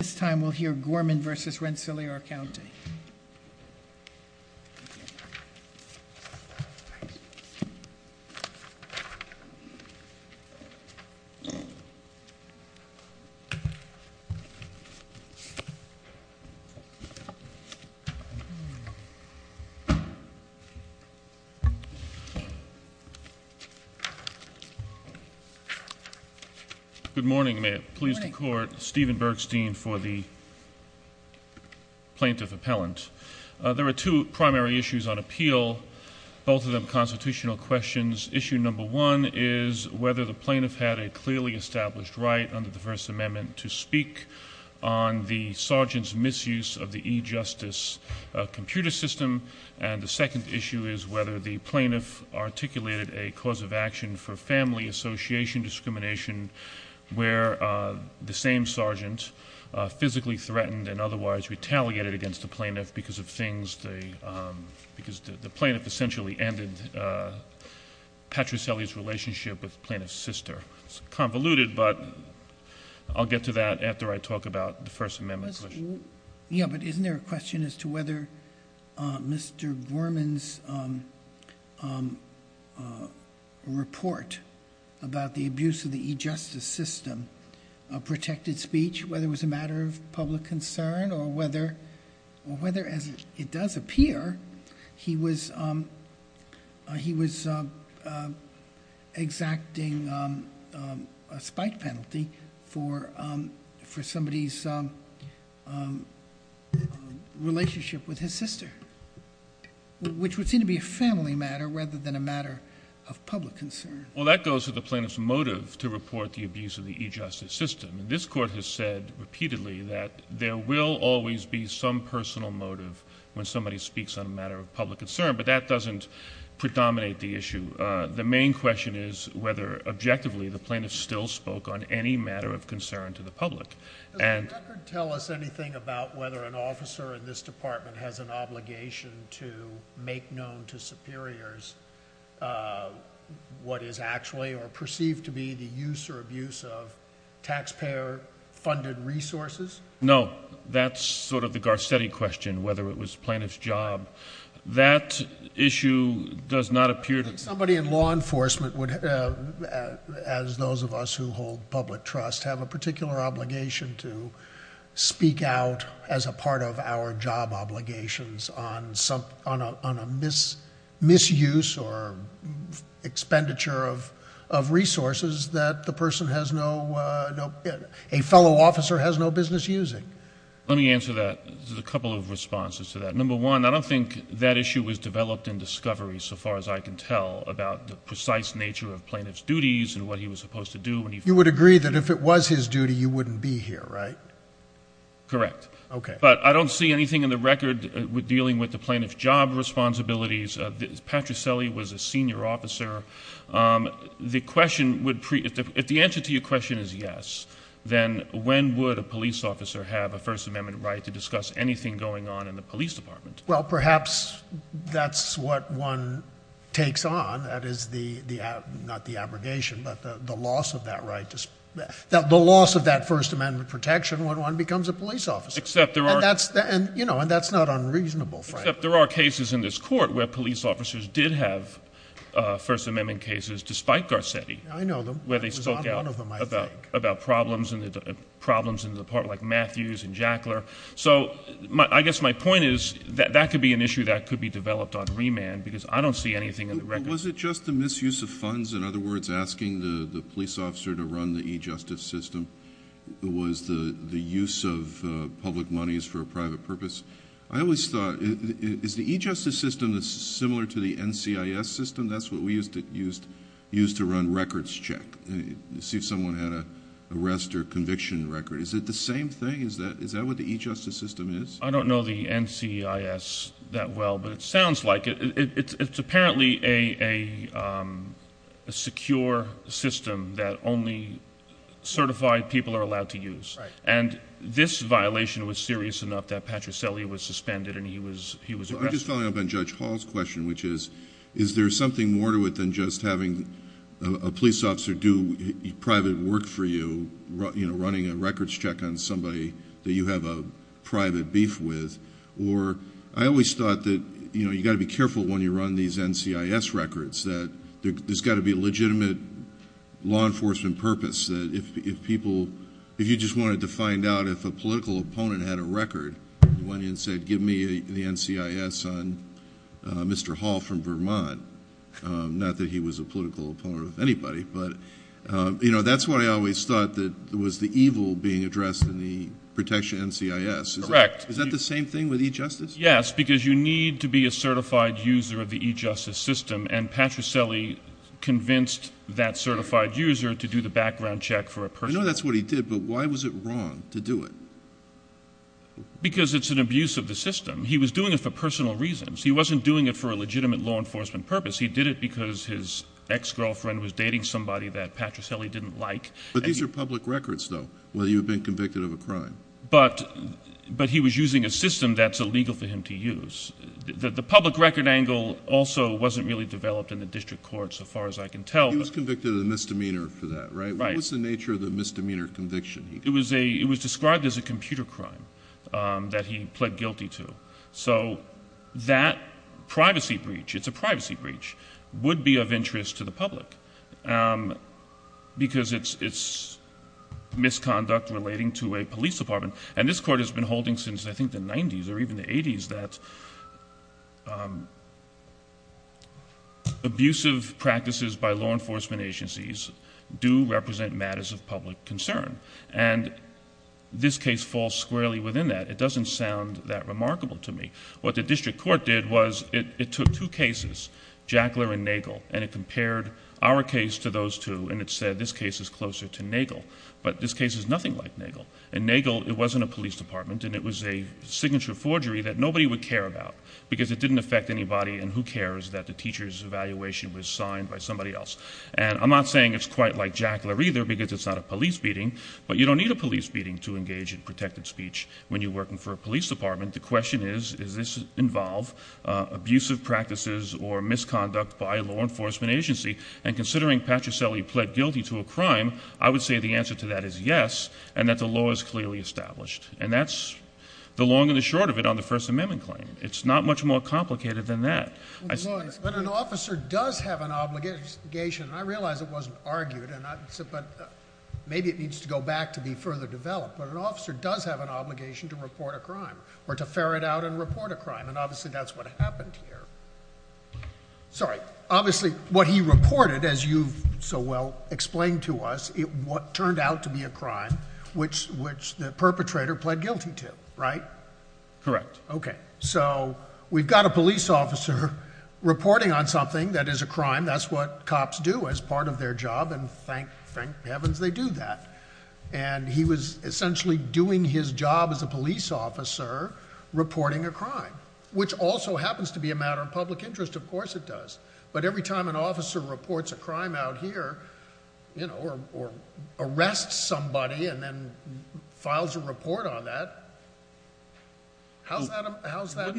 This time we'll hear Gorman v. Rensselaer County. Good morning. May it please the Court, Steven Bergstein for the plaintiff appellate. There are two primary issues on appeal, both of them constitutional questions. Issue number one is whether the plaintiff had a clearly established right under the First Amendment to speak on the sergeant's misuse of the e-justice computer system. And the second issue is whether the plaintiff articulated a cause of action for family association discrimination where the same sergeant physically threatened and otherwise retaliated against the plaintiff because the plaintiff essentially ended Patricelli's relationship with the plaintiff's sister. It's convoluted, but I'll get to that after I talk about the First Amendment question. Yeah, but isn't there a question as to whether Mr. Gorman's report about the abuse of the e-justice system protected speech, whether it was a matter of public concern or whether, as it does appear, he was exacting a spike penalty for somebody's relationship with his sister, which would seem to be a family matter rather than a matter of public concern? Well, that goes to the plaintiff's motive to report the abuse of the e-justice system. This Court has said repeatedly that there will always be some personal motive when somebody speaks on a matter of public concern, but that doesn't predominate the issue. The main question is whether, objectively, the plaintiff still spoke on any matter of concern to the public. Does the record tell us anything about whether an officer in this Department has an obligation to make known to superiors what is actually or perceived to be the use or abuse of taxpayer-funded resources? No. That's sort of the Garcetti question, whether it was the plaintiff's job. That issue does not appear to— I think somebody in law enforcement would, as those of us who hold public trust, have a particular obligation to speak out as a part of our job obligations on a misuse or expenditure of resources that a fellow officer has no business using. Let me answer that. There's a couple of responses to that. Number one, I don't think that issue was developed in discovery, so far as I can tell, about the precise nature of plaintiff's duties and what he was supposed to do when he— You would agree that if it was his duty, you wouldn't be here, right? Correct. Okay. But I don't see anything in the record dealing with the plaintiff's job responsibilities. Patrick Selle was a senior officer. The question would—if the answer to your question is yes, then when would a police officer have a First Amendment right to discuss anything going on in the police department? Well, perhaps that's what one takes on. That is the—not the abrogation, but the loss of that right. The loss of that First Amendment protection when one becomes a police officer. Except there are— And that's not unreasonable, frankly. Except there are cases in this court where police officers did have First Amendment cases, despite Garcetti. I know them. Where they spoke out about problems in the department, like Matthews and Jackler. So I guess my point is that that could be an issue that could be developed on remand because I don't see anything in the record. Was it just the misuse of funds? In other words, asking the police officer to run the e-justice system? Was the use of public monies for a private purpose? I always thought—is the e-justice system similar to the NCIS system? That's what we used to run records check to see if someone had an arrest or conviction record. Is it the same thing? Is that what the e-justice system is? I don't know the NCIS that well, but it sounds like it. It's apparently a secure system that only certified people are allowed to use. And this violation was serious enough that Patricelli was suspended and he was arrested. I'm just following up on Judge Hall's question, which is, is there something more to it than just having a police officer do private work for you, running a records check on somebody that you have a private beef with? Or I always thought that you've got to be careful when you run these NCIS records, that there's got to be a legitimate law enforcement purpose, that if people—if you just wanted to find out if a political opponent had a record, you went in and said, give me the NCIS on Mr. Hall from Vermont. Not that he was a political opponent of anybody. But, you know, that's what I always thought was the evil being addressed in the protection NCIS. Correct. Is that the same thing with e-justice? Yes, because you need to be a certified user of the e-justice system, and Patricelli convinced that certified user to do the background check for a person. I know that's what he did, but why was it wrong to do it? Because it's an abuse of the system. He was doing it for personal reasons. He wasn't doing it for a legitimate law enforcement purpose. He did it because his ex-girlfriend was dating somebody that Patricelli didn't like. But these are public records, though, where you've been convicted of a crime. But he was using a system that's illegal for him to use. The public record angle also wasn't really developed in the district court, so far as I can tell. He was convicted of a misdemeanor for that, right? Right. What was the nature of the misdemeanor conviction? It was described as a computer crime that he pled guilty to. So that privacy breach, it's a privacy breach, would be of interest to the public because it's misconduct relating to a police department. And this court has been holding since, I think, the 1990s or even the 1980s that abusive practices by law enforcement agencies do represent matters of public concern. And this case falls squarely within that. It doesn't sound that remarkable to me. What the district court did was it took two cases, Jackler and Nagel, and it compared our case to those two, and it said this case is closer to Nagel. But this case is nothing like Nagel. In Nagel, it wasn't a police department, and it was a signature forgery that nobody would care about because it didn't affect anybody, and who cares that the teacher's evaluation was signed by somebody else. And I'm not saying it's quite like Jackler either because it's not a police beating, but you don't need a police beating to engage in protected speech when you're working for a police department. The question is, does this involve abusive practices or misconduct by a law enforcement agency? And considering Patricelli pled guilty to a crime, I would say the answer to that is yes, and that the law is clearly established. And that's the long and the short of it on the First Amendment claim. It's not much more complicated than that. But an officer does have an obligation, and I realize it wasn't argued, but maybe it needs to go back to be further developed, but an officer does have an obligation to report a crime or to ferret out and report a crime, and obviously that's what happened here. Sorry. Obviously what he reported, as you so well explained to us, it turned out to be a crime which the perpetrator pled guilty to, right? Correct. Okay. So we've got a police officer reporting on something that is a crime. That's what cops do as part of their job, and thank heavens they do that. And he was essentially doing his job as a police officer reporting a crime, which also happens to be a matter of public interest. Of course it does. But every time an officer reports a crime out here, you know, or arrests somebody and then files a report on that, how is that a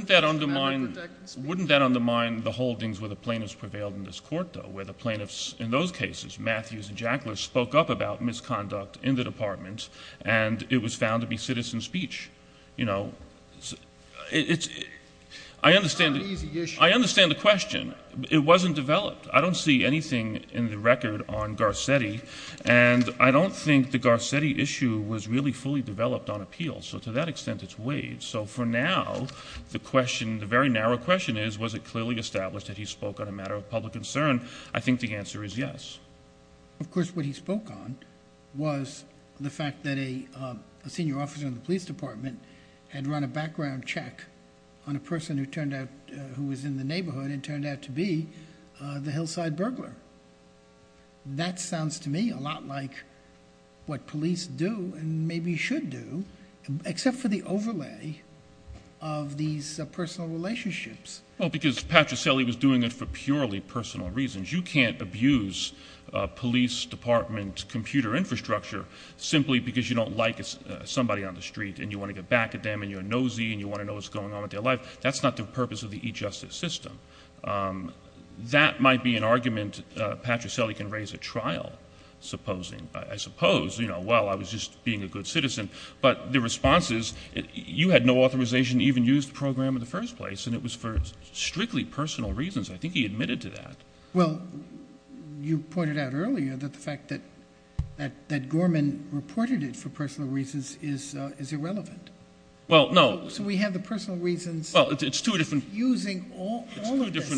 matter of protecting speech? Wouldn't that undermine the holdings where the plaintiffs prevailed in this court, though, where the plaintiffs in those cases, Matthews and Jackler, spoke up about misconduct in the department and it was found to be citizen speech? You know, I understand the question. It wasn't developed. I don't see anything in the record on Garcetti, and I don't think the Garcetti issue was really fully developed on appeal, so to that extent it's waived. So for now the question, the very narrow question is, was it clearly established that he spoke on a matter of public concern? I think the answer is yes. Of course what he spoke on was the fact that a senior officer in the police department had run a background check on a person who was in the neighborhood and turned out to be the Hillside burglar. That sounds to me a lot like what police do and maybe should do, except for the overlay of these personal relationships. Well, because Patricelli was doing it for purely personal reasons. You can't abuse police department computer infrastructure simply because you don't like somebody on the street and you want to get back at them and you're nosy and you want to know what's going on with their life. That's not the purpose of the e-justice system. That might be an argument Patricelli can raise at trial, supposing. I suppose, you know, well, I was just being a good citizen, but the response is you had no authorization to even use the program in the first place and it was for strictly personal reasons. I think he admitted to that. Well, you pointed out earlier that the fact that Gorman reported it for personal reasons is irrelevant. Well, no. So we have the personal reasons using all of this. It's two different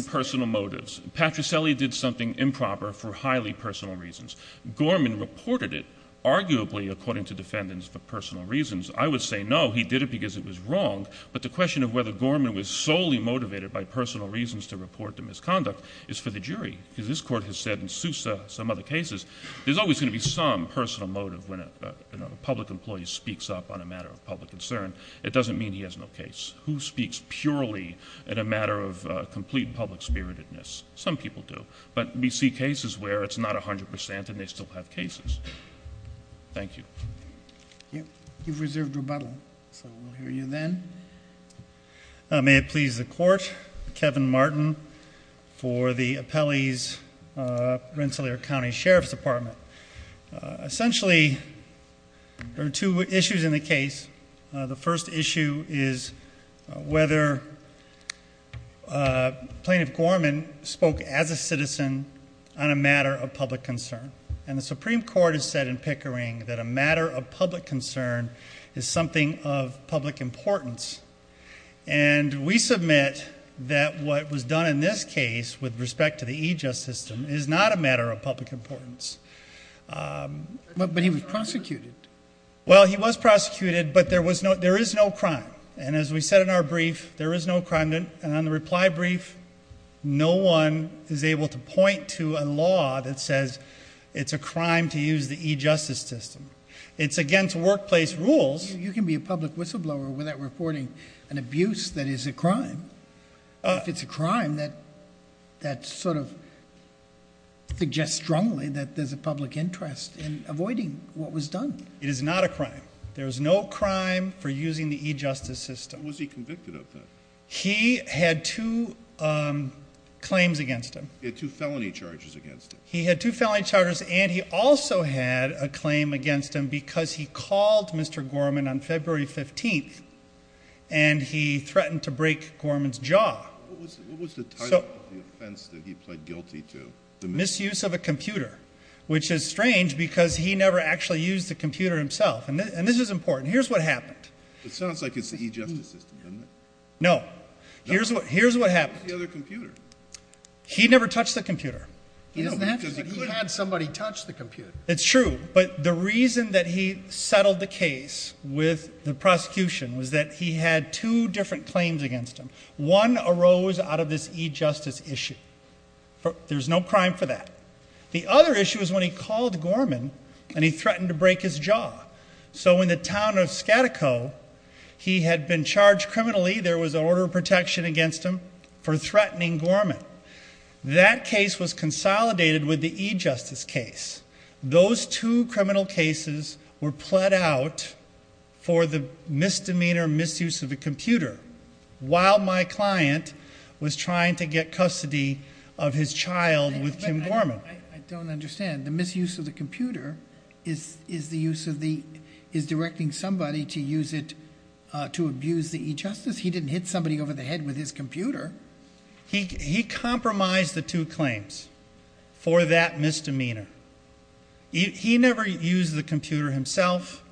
personal motives. Patricelli did something improper for highly personal reasons. Gorman reported it arguably according to defendants for personal reasons. I would say no, he did it because it was wrong, but the question of whether Gorman was solely motivated by personal reasons to report the misconduct is for the jury because this Court has said in Sousa, some other cases, there's always going to be some personal motive when a public employee speaks up on a matter of public concern. It doesn't mean he has no case. Who speaks purely in a matter of complete public spiritedness? Some people do. But we see cases where it's not 100% and they still have cases. Thank you. You've reserved rebuttal, so we'll hear you then. May it please the Court, Kevin Martin for the appellee's Rensselaer County Sheriff's Department. Essentially, there are two issues in the case. The first issue is whether Plaintiff Gorman spoke as a citizen on a matter of public concern. And the Supreme Court has said in Pickering that a matter of public concern is something of public importance. And we submit that what was done in this case with respect to the EJUST system is not a matter of public importance. But he was prosecuted. Well, he was prosecuted, but there is no crime. And as we said in our brief, there is no crime. And on the reply brief, no one is able to point to a law that says it's a crime to use the EJUST system. It's against workplace rules. You can be a public whistleblower without reporting an abuse that is a crime. If it's a crime, that sort of suggests strongly that there's a public interest in avoiding what was done. It is not a crime. There is no crime for using the EJUST system. Was he convicted of that? He had two claims against him. He had two felony charges against him. He had two felony charges, and he also had a claim against him because he called Mr. Gorman on February 15th and he threatened to break Gorman's jaw. What was the title of the offense that he pled guilty to? The misuse of a computer, which is strange because he never actually used the computer himself. And this is important. Here's what happened. It sounds like it's the EJUST system, doesn't it? No. Here's what happened. What about the other computer? He never touched the computer. He had somebody touch the computer. It's true. But the reason that he settled the case with the prosecution was that he had two different claims against him. One arose out of this EJUST issue. There's no crime for that. The other issue is when he called Gorman and he threatened to break his jaw. So in the town of Skadiko, he had been charged criminally. There was an order of protection against him for threatening Gorman. That case was consolidated with the EJUST case. Those two criminal cases were pled out for the misdemeanor misuse of a computer while my client was trying to get custody of his child with Kim Gorman. I don't understand. The misuse of the computer is directing somebody to use it to abuse the EJUST? He didn't hit somebody over the head with his computer. He compromised the two claims for that misdemeanor. He never used the computer himself.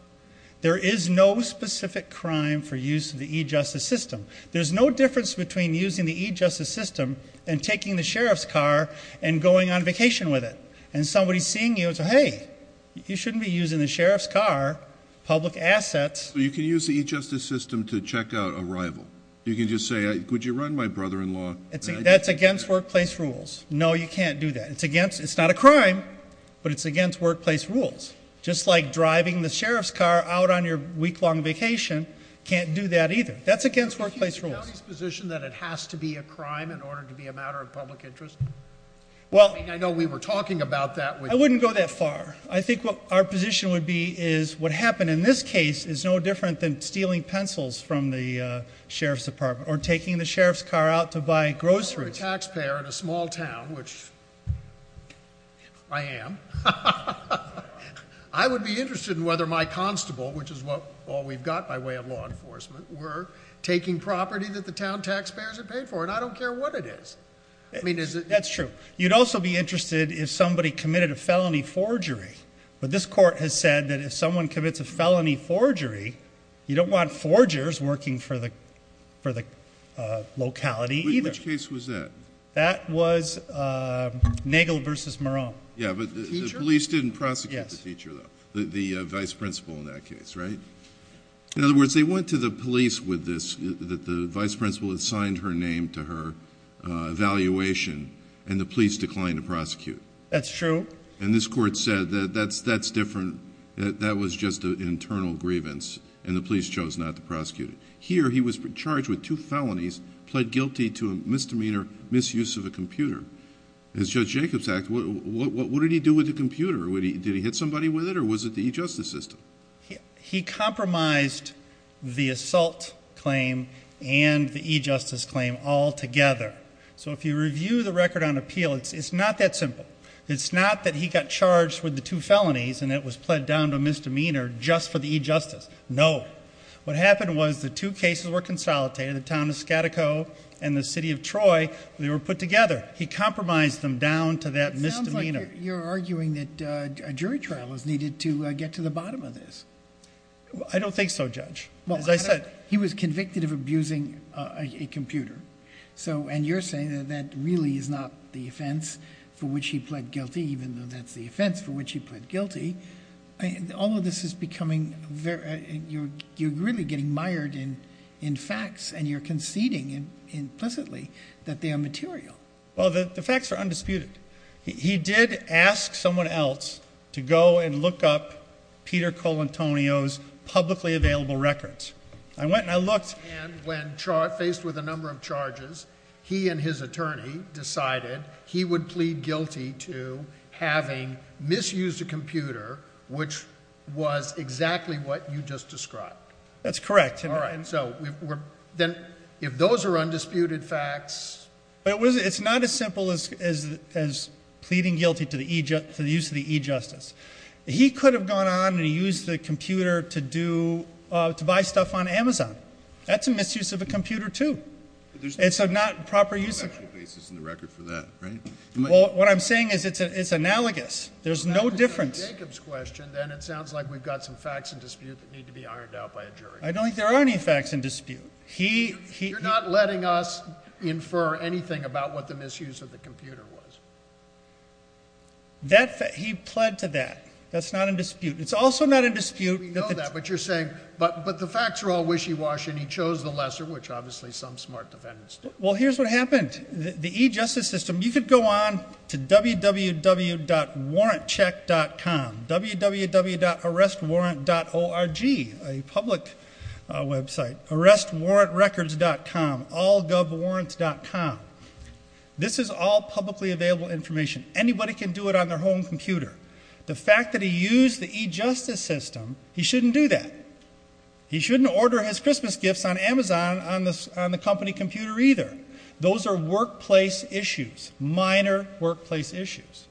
There is no specific crime for use of the EJUST system. There's no difference between using the EJUST system and taking the sheriff's car and going on vacation with it. And somebody seeing you will say, hey, you shouldn't be using the sheriff's car, public assets. You can use the EJUST system to check out a rival. You can just say, would you run my brother-in-law? That's against workplace rules. No, you can't do that. It's not a crime, but it's against workplace rules. Just like driving the sheriff's car out on your week-long vacation can't do that either. That's against workplace rules. Is the county's position that it has to be a crime in order to be a matter of public interest? I mean, I know we were talking about that. I wouldn't go that far. I think what our position would be is what happened in this case is no different than stealing pencils from the sheriff's department or taking the sheriff's car out to buy groceries. If I were a taxpayer in a small town, which I am, I would be interested in whether my constable, which is all we've got by way of law enforcement, were taking property that the town taxpayers had paid for. And I don't care what it is. That's true. You'd also be interested if somebody committed a felony forgery. But this court has said that if someone commits a felony forgery, you don't want forgers working for the locality either. Which case was that? That was Nagel v. Marone. Yeah, but the police didn't prosecute the teacher though, the vice principal in that case, right? In other words, they went to the police with this, that the vice principal had signed her name to her evaluation, and the police declined to prosecute. That's true. And this court said that that's different. That was just an internal grievance, and the police chose not to prosecute it. Here he was charged with two felonies, pled guilty to a misdemeanor misuse of a computer. As Judge Jacobs asked, what did he do with the computer? Did he hit somebody with it, or was it the e-justice system? He compromised the assault claim and the e-justice claim all together. So if you review the record on appeal, it's not that simple. It's not that he got charged with the two felonies and it was pled down to a misdemeanor just for the e-justice. No. What happened was the two cases were consolidated, the town of Skadiko and the city of Troy. They were put together. He compromised them down to that misdemeanor. It sounds like you're arguing that a jury trial is needed to get to the bottom of this. I don't think so, Judge. As I said. He was convicted of abusing a computer. And you're saying that that really is not the offense for which he pled guilty, even though that's the offense for which he pled guilty. All of this is becoming very, you're really getting mired in facts and you're conceding implicitly that they are material. Well, the facts are undisputed. He did ask someone else to go and look up Peter Colantonio's publicly available records. I went and I looked. And when faced with a number of charges, he and his attorney decided he would plead guilty to having misused a computer, which was exactly what you just described. That's correct. All right. So then if those are undisputed facts. It's not as simple as pleading guilty to the use of the e-justice. He could have gone on and used the computer to do, to buy stuff on Amazon. That's a misuse of a computer, too. It's not proper use of it. There's no factual basis in the record for that, right? Well, what I'm saying is it's analogous. There's no difference. Well, that's Jacob's question, then it sounds like we've got some facts in dispute that need to be ironed out by a jury. I don't think there are any facts in dispute. You're not letting us infer anything about what the misuse of the computer was. He pled to that. That's not in dispute. It's also not in dispute. We know that, but you're saying, but the facts are all wishy-washy and he chose the lesser, which obviously some smart defendants do. Well, here's what happened. The e-justice system, you could go on to www.warrantcheck.com, www.arrestwarrant.org, a public website, arrestwarrantrecords.com, allgovwarrants.com. This is all publicly available information. Anybody can do it on their home computer. The fact that he used the e-justice system, he shouldn't do that. He shouldn't order his Christmas gifts on Amazon on the company computer either. Those are workplace issues, minor workplace issues.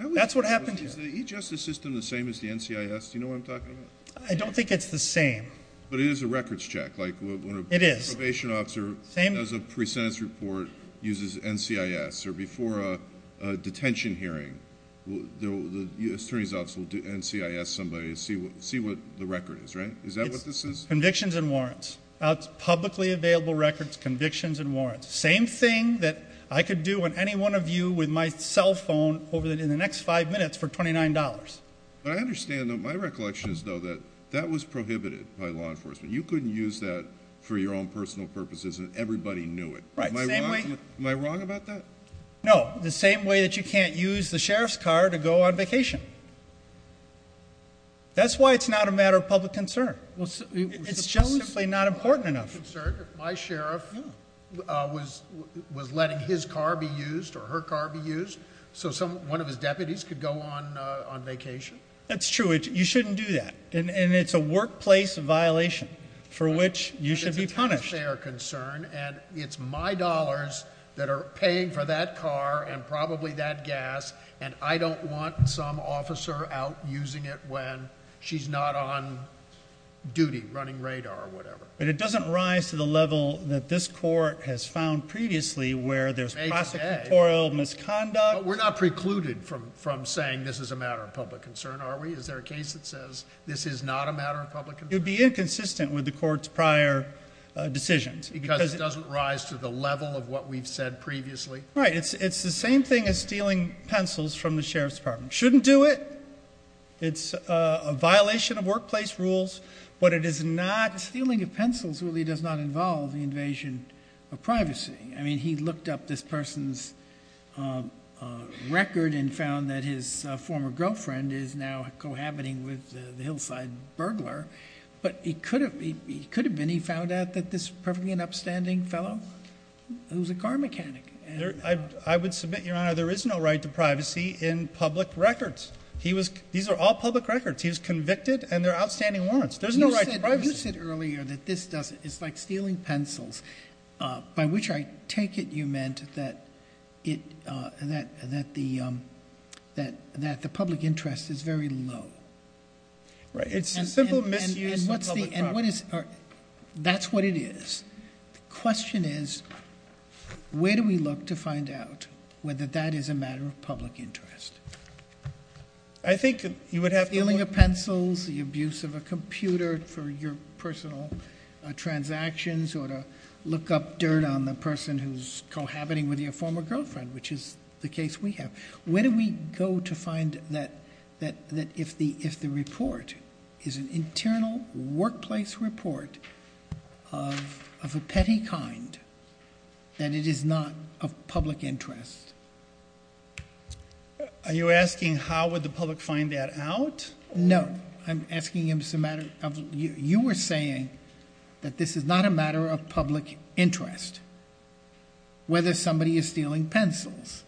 That's what happened here. Is the e-justice system the same as the NCIS? Do you know what I'm talking about? I don't think it's the same. But it is a records check. It is. If a probation officer has a pre-sentence report, uses NCIS, or before a detention hearing, the attorney's office will NCIS somebody to see what the record is, right? Is that what this is? It's convictions and warrants. It's publicly available records, convictions, and warrants. Same thing that I could do on any one of you with my cell phone over the next five minutes for $29. But I understand, though, my recollection is, though, that that was prohibited by law enforcement. You couldn't use that for your own personal purposes and everybody knew it. Am I wrong about that? No, the same way that you can't use the sheriff's car to go on vacation. That's why it's not a matter of public concern. It's just simply not important enough. My sheriff was letting his car be used or her car be used so one of his deputies could go on vacation? That's true. You shouldn't do that. And it's a workplace violation for which you should be punished. It's a taxpayer concern, and it's my dollars that are paying for that car and probably that gas, and I don't want some officer out using it when she's not on duty, running radar or whatever. But it doesn't rise to the level that this court has found previously where there's prosecutorial misconduct. But we're not precluded from saying this is a matter of public concern, are we? Is there a case that says this is not a matter of public concern? It would be inconsistent with the court's prior decisions. Because it doesn't rise to the level of what we've said previously? Right. It's the same thing as stealing pencils from the sheriff's department. You shouldn't do it. It's a violation of workplace rules, but it is not. Stealing of pencils really does not involve the invasion of privacy. I mean, he looked up this person's record and found that his former girlfriend is now cohabiting with the hillside burglar. But he could have been. He found out that this was probably an upstanding fellow who was a car mechanic. I would submit, Your Honor, there is no right to privacy in public records. These are all public records. He was convicted, and there are outstanding warrants. There's no right to privacy. You said earlier that this is like stealing pencils, by which I take it you meant that the public interest is very low. Right. It's a simple misuse of public property. That's what it is. The question is, where do we look to find out whether that is a matter of public interest? I think you would have to look... Stealing of pencils, the abuse of a computer for your personal transactions, or to look up dirt on the person who's cohabiting with your former girlfriend, which is the case we have. Where do we go to find that if the report is an internal workplace report of a petty kind, that it is not of public interest? Are you asking how would the public find that out? No. I'm asking if it's a matter of... You were saying that this is not a matter of public interest, whether somebody is stealing pencils.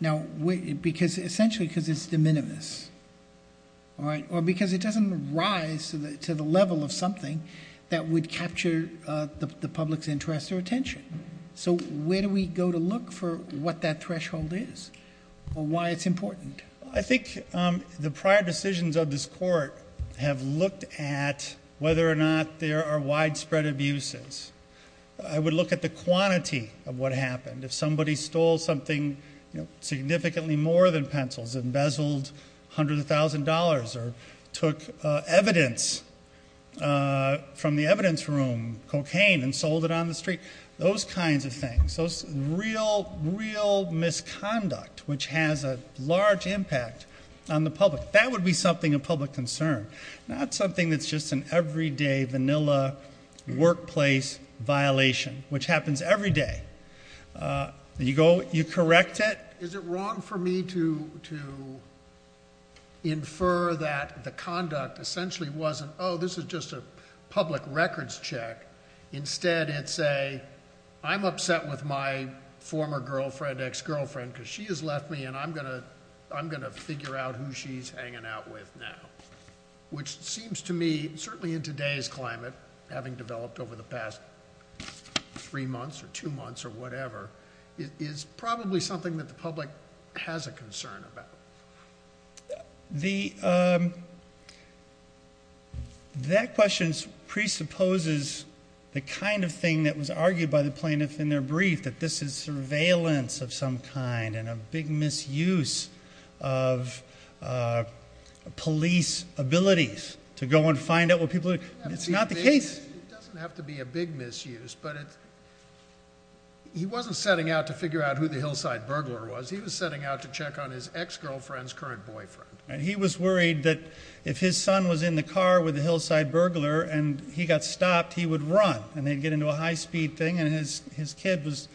Now, essentially because it's de minimis, or because it doesn't rise to the level of something that would capture the public's interest or attention. Where do we go to look for what that threshold is, or why it's important? I think the prior decisions of this court have looked at whether or not there are widespread abuses. I would look at the quantity of what happened. If somebody stole something significantly more than pencils, embezzled hundreds of thousands of dollars, or took evidence from the evidence room, cocaine, and sold it on the street, those kinds of things, those real, real misconduct which has a large impact on the public, that would be something of public concern, not something that's just an everyday, vanilla workplace violation, which happens every day. You correct it. Is it wrong for me to infer that the conduct essentially wasn't, oh, this is just a public records check. Instead, it's a, I'm upset with my former girlfriend, ex-girlfriend, because she has left me, and I'm going to figure out who she's hanging out with now, which seems to me, certainly in today's climate, having developed over the past three months, or two months, or whatever, is probably something that the public has a concern about. That question presupposes the kind of thing that was argued by the plaintiff in their brief, that this is surveillance of some kind, and a big misuse of police abilities to go and find out what people are doing. It's not the case. It doesn't have to be a big misuse, but he wasn't setting out to figure out who the hillside burglar was. He was setting out to check on his ex-girlfriend's current boyfriend. He was worried that if his son was in the car with the hillside burglar, and he got stopped, he would run, and they'd get into a high-speed thing, and his kid was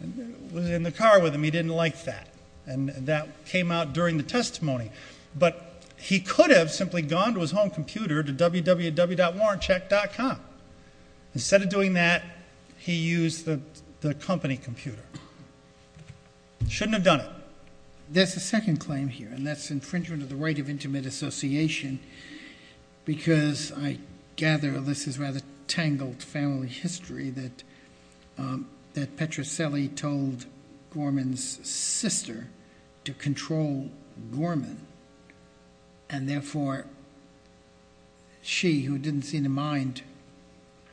in the car with him. He didn't like that, and that came out during the testimony. But he could have simply gone to his home computer to www.warrantcheck.com. Instead of doing that, he used the company computer. Shouldn't have done it. There's a second claim here, and that's infringement of the right of intimate association, because I gather this is rather tangled family history that Petrocelli told Gorman's sister to control Gorman, and therefore she, who didn't seem to mind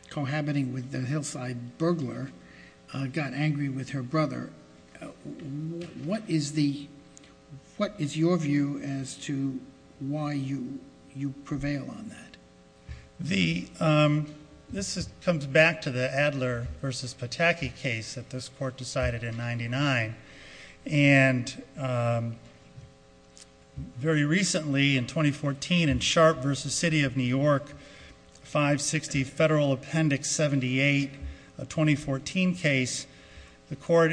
cohabiting with the hillside burglar, got angry with her brother. What is your view as to why you prevail on that? This comes back to the Adler v. Pataki case that this court decided in 99, and very recently, in 2014, in Sharp v. City of New York, 560 Federal Appendix 78, a 2014 case, the court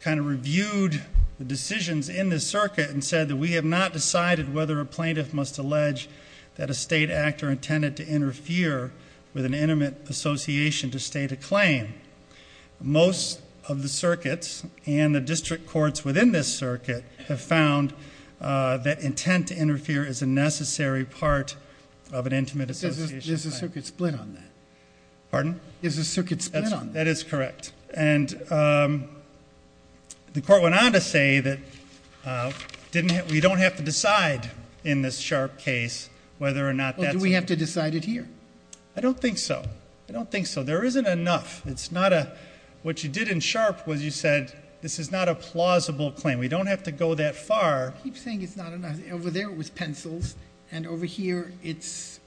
kind of reviewed the decisions in this circuit and said that we have not decided whether a plaintiff must allege that a state act or intended to interfere with an intimate association to state a claim. Most of the circuits and the district courts within this circuit have found that intent to interfere is a necessary part of an intimate association. Is the circuit split on that? Pardon? Is the circuit split on that? That is correct. And the court went on to say that we don't have to decide in this Sharp case whether or not that's a- Well, do we have to decide it here? I don't think so. I don't think so. There isn't enough. It's not a- What you did in Sharp was you said this is not a plausible claim. We don't have to go that far. You keep saying it's not enough. Over there it was pencils, and over here it's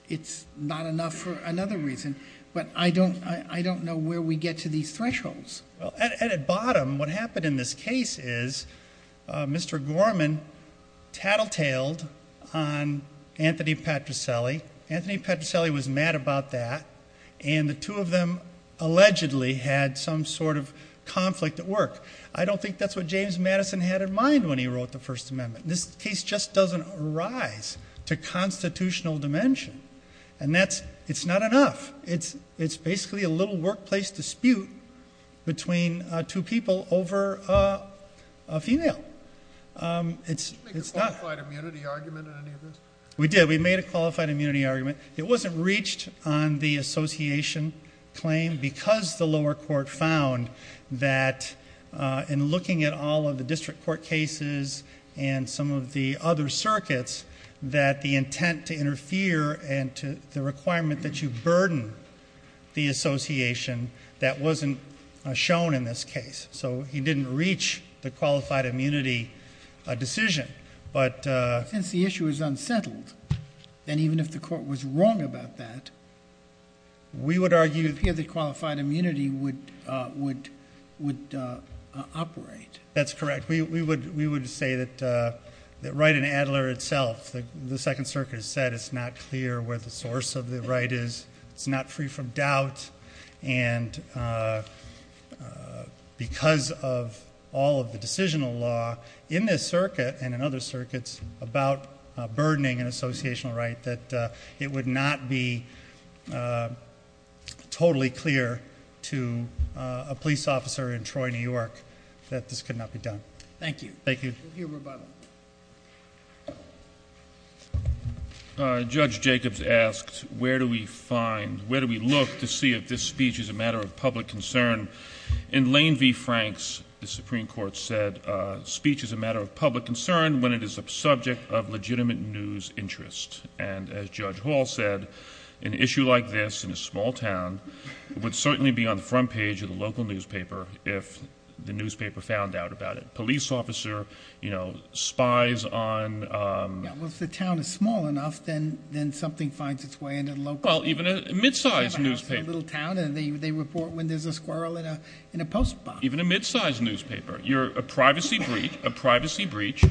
not enough for another reason. But I don't know where we get to these thresholds. Well, at a bottom, what happened in this case is Mr. Gorman tattletaled on Anthony Patricelli. Anthony Patricelli was mad about that, and the two of them allegedly had some sort of conflict at work. I don't think that's what James Madison had in mind when he wrote the First Amendment. This case just doesn't rise to constitutional dimension. It's not enough. It's basically a little workplace dispute between two people over a female. Did you make a qualified immunity argument in any of this? We did. We made a qualified immunity argument. It wasn't reached on the association claim because the lower court found that in looking at all of the district court cases and some of the other circuits that the intent to interfere and the requirement that you burden the association, that wasn't shown in this case. So he didn't reach the qualified immunity decision. But since the issue is unsettled, and even if the court was wrong about that, we would argue that qualified immunity would operate. That's correct. We would say that Wright and Adler itself, the Second Circuit has said it's not clear where the source of the right is. It's not free from doubt. And because of all of the decisional law in this circuit and in other circuits about burdening an associational right, that it would not be totally clear to a police officer in Troy, New York, that this could not be done. Thank you. Thank you. Judge Jacobs asked, where do we find, where do we look to see if this speech is a matter of public concern? In Lane v. Franks, the Supreme Court said speech is a matter of public concern when it is a subject of legitimate news interest. And as Judge Hall said, an issue like this in a small town would certainly be on the front page of the local newspaper if the newspaper found out about it. Police officer, you know, spies on- Well, if the town is small enough, then something finds its way into the local- Well, even a mid-sized newspaper. They have a house in a little town and they report when there's a squirrel in a post box. Even a mid-sized newspaper. You're a privacy breach, a privacy breach,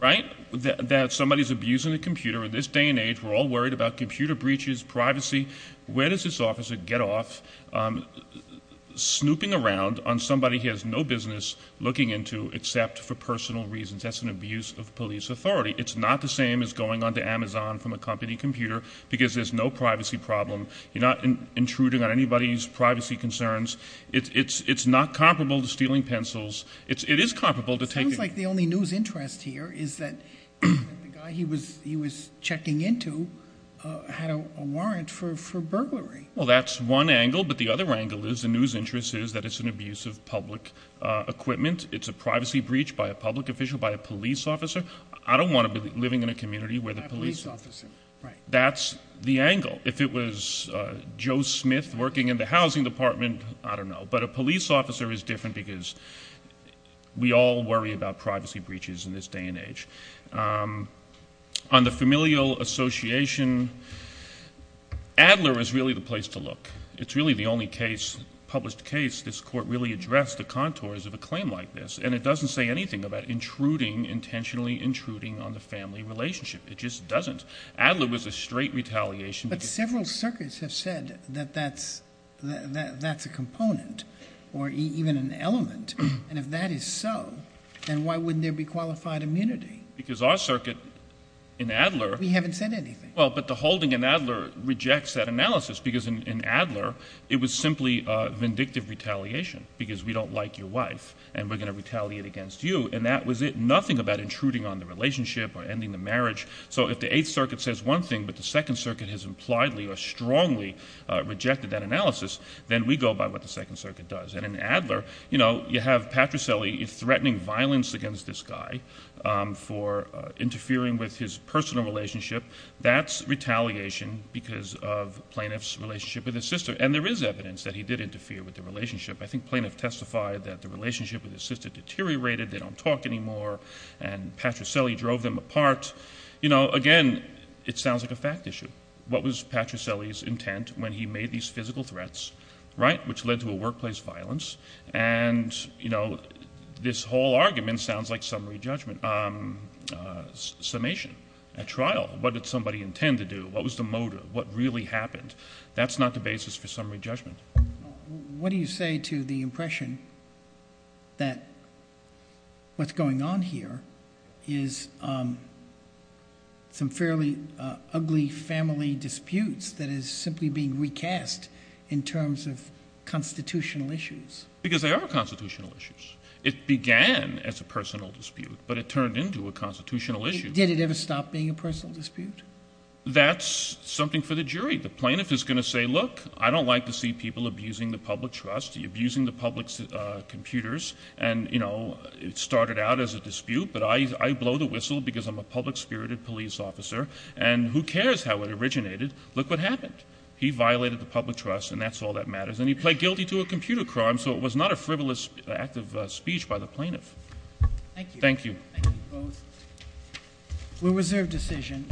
right, that somebody's abusing a computer. In this day and age, we're all worried about computer breaches, privacy. Where does this officer get off snooping around on somebody he has no business looking into except for personal reasons? That's an abuse of police authority. It's not the same as going onto Amazon from a company computer because there's no privacy problem. You're not intruding on anybody's privacy concerns. It's not comparable to stealing pencils. It is comparable to taking- It sounds like the only news interest here is that the guy he was checking into had a warrant for burglary. Well, that's one angle, but the other angle is the news interest is that it's an abuse of public equipment. It's a privacy breach by a public official, by a police officer. I don't want to be living in a community where the police- By a police officer, right. That's the angle. If it was Joe Smith working in the housing department, I don't know. But a police officer is different because we all worry about privacy breaches in this day and age. On the familial association, Adler is really the place to look. It's really the only case, published case, this court really addressed the contours of a claim like this, and it doesn't say anything about intruding, intentionally intruding on the family relationship. It just doesn't. Adler was a straight retaliation. But several circuits have said that that's a component or even an element, and if that is so, then why wouldn't there be qualified immunity? Because our circuit in Adler- We haven't said anything. Well, but the holding in Adler rejects that analysis because in Adler it was simply vindictive retaliation because we don't like your wife and we're going to retaliate against you, and that was it, nothing about intruding on the relationship or ending the marriage. So if the Eighth Circuit says one thing but the Second Circuit has impliedly or strongly rejected that analysis, then we go by what the Second Circuit does. And in Adler, you know, you have Patricelli threatening violence against this guy for interfering with his personal relationship. That's retaliation because of the plaintiff's relationship with his sister, and there is evidence that he did interfere with the relationship. I think the plaintiff testified that the relationship with his sister deteriorated, they don't talk anymore, and Patricelli drove them apart. You know, again, it sounds like a fact issue. What was Patricelli's intent when he made these physical threats, right, which led to a workplace violence? And, you know, this whole argument sounds like summary judgment, summation, a trial. What did somebody intend to do? What was the motive? What really happened? That's not the basis for summary judgment. What do you say to the impression that what's going on here is some fairly ugly family disputes that is simply being recast in terms of constitutional issues? Because they are constitutional issues. It began as a personal dispute, but it turned into a constitutional issue. Did it ever stop being a personal dispute? That's something for the jury. The plaintiff is going to say, look, I don't like to see people abusing the public trust, abusing the public's computers, and, you know, it started out as a dispute, but I blow the whistle because I'm a public-spirited police officer, and who cares how it originated? Look what happened. He violated the public trust, and that's all that matters, and he pled guilty to a computer crime, so it was not a frivolous act of speech by the plaintiff. Thank you. Thank you both. We'll reserve decision.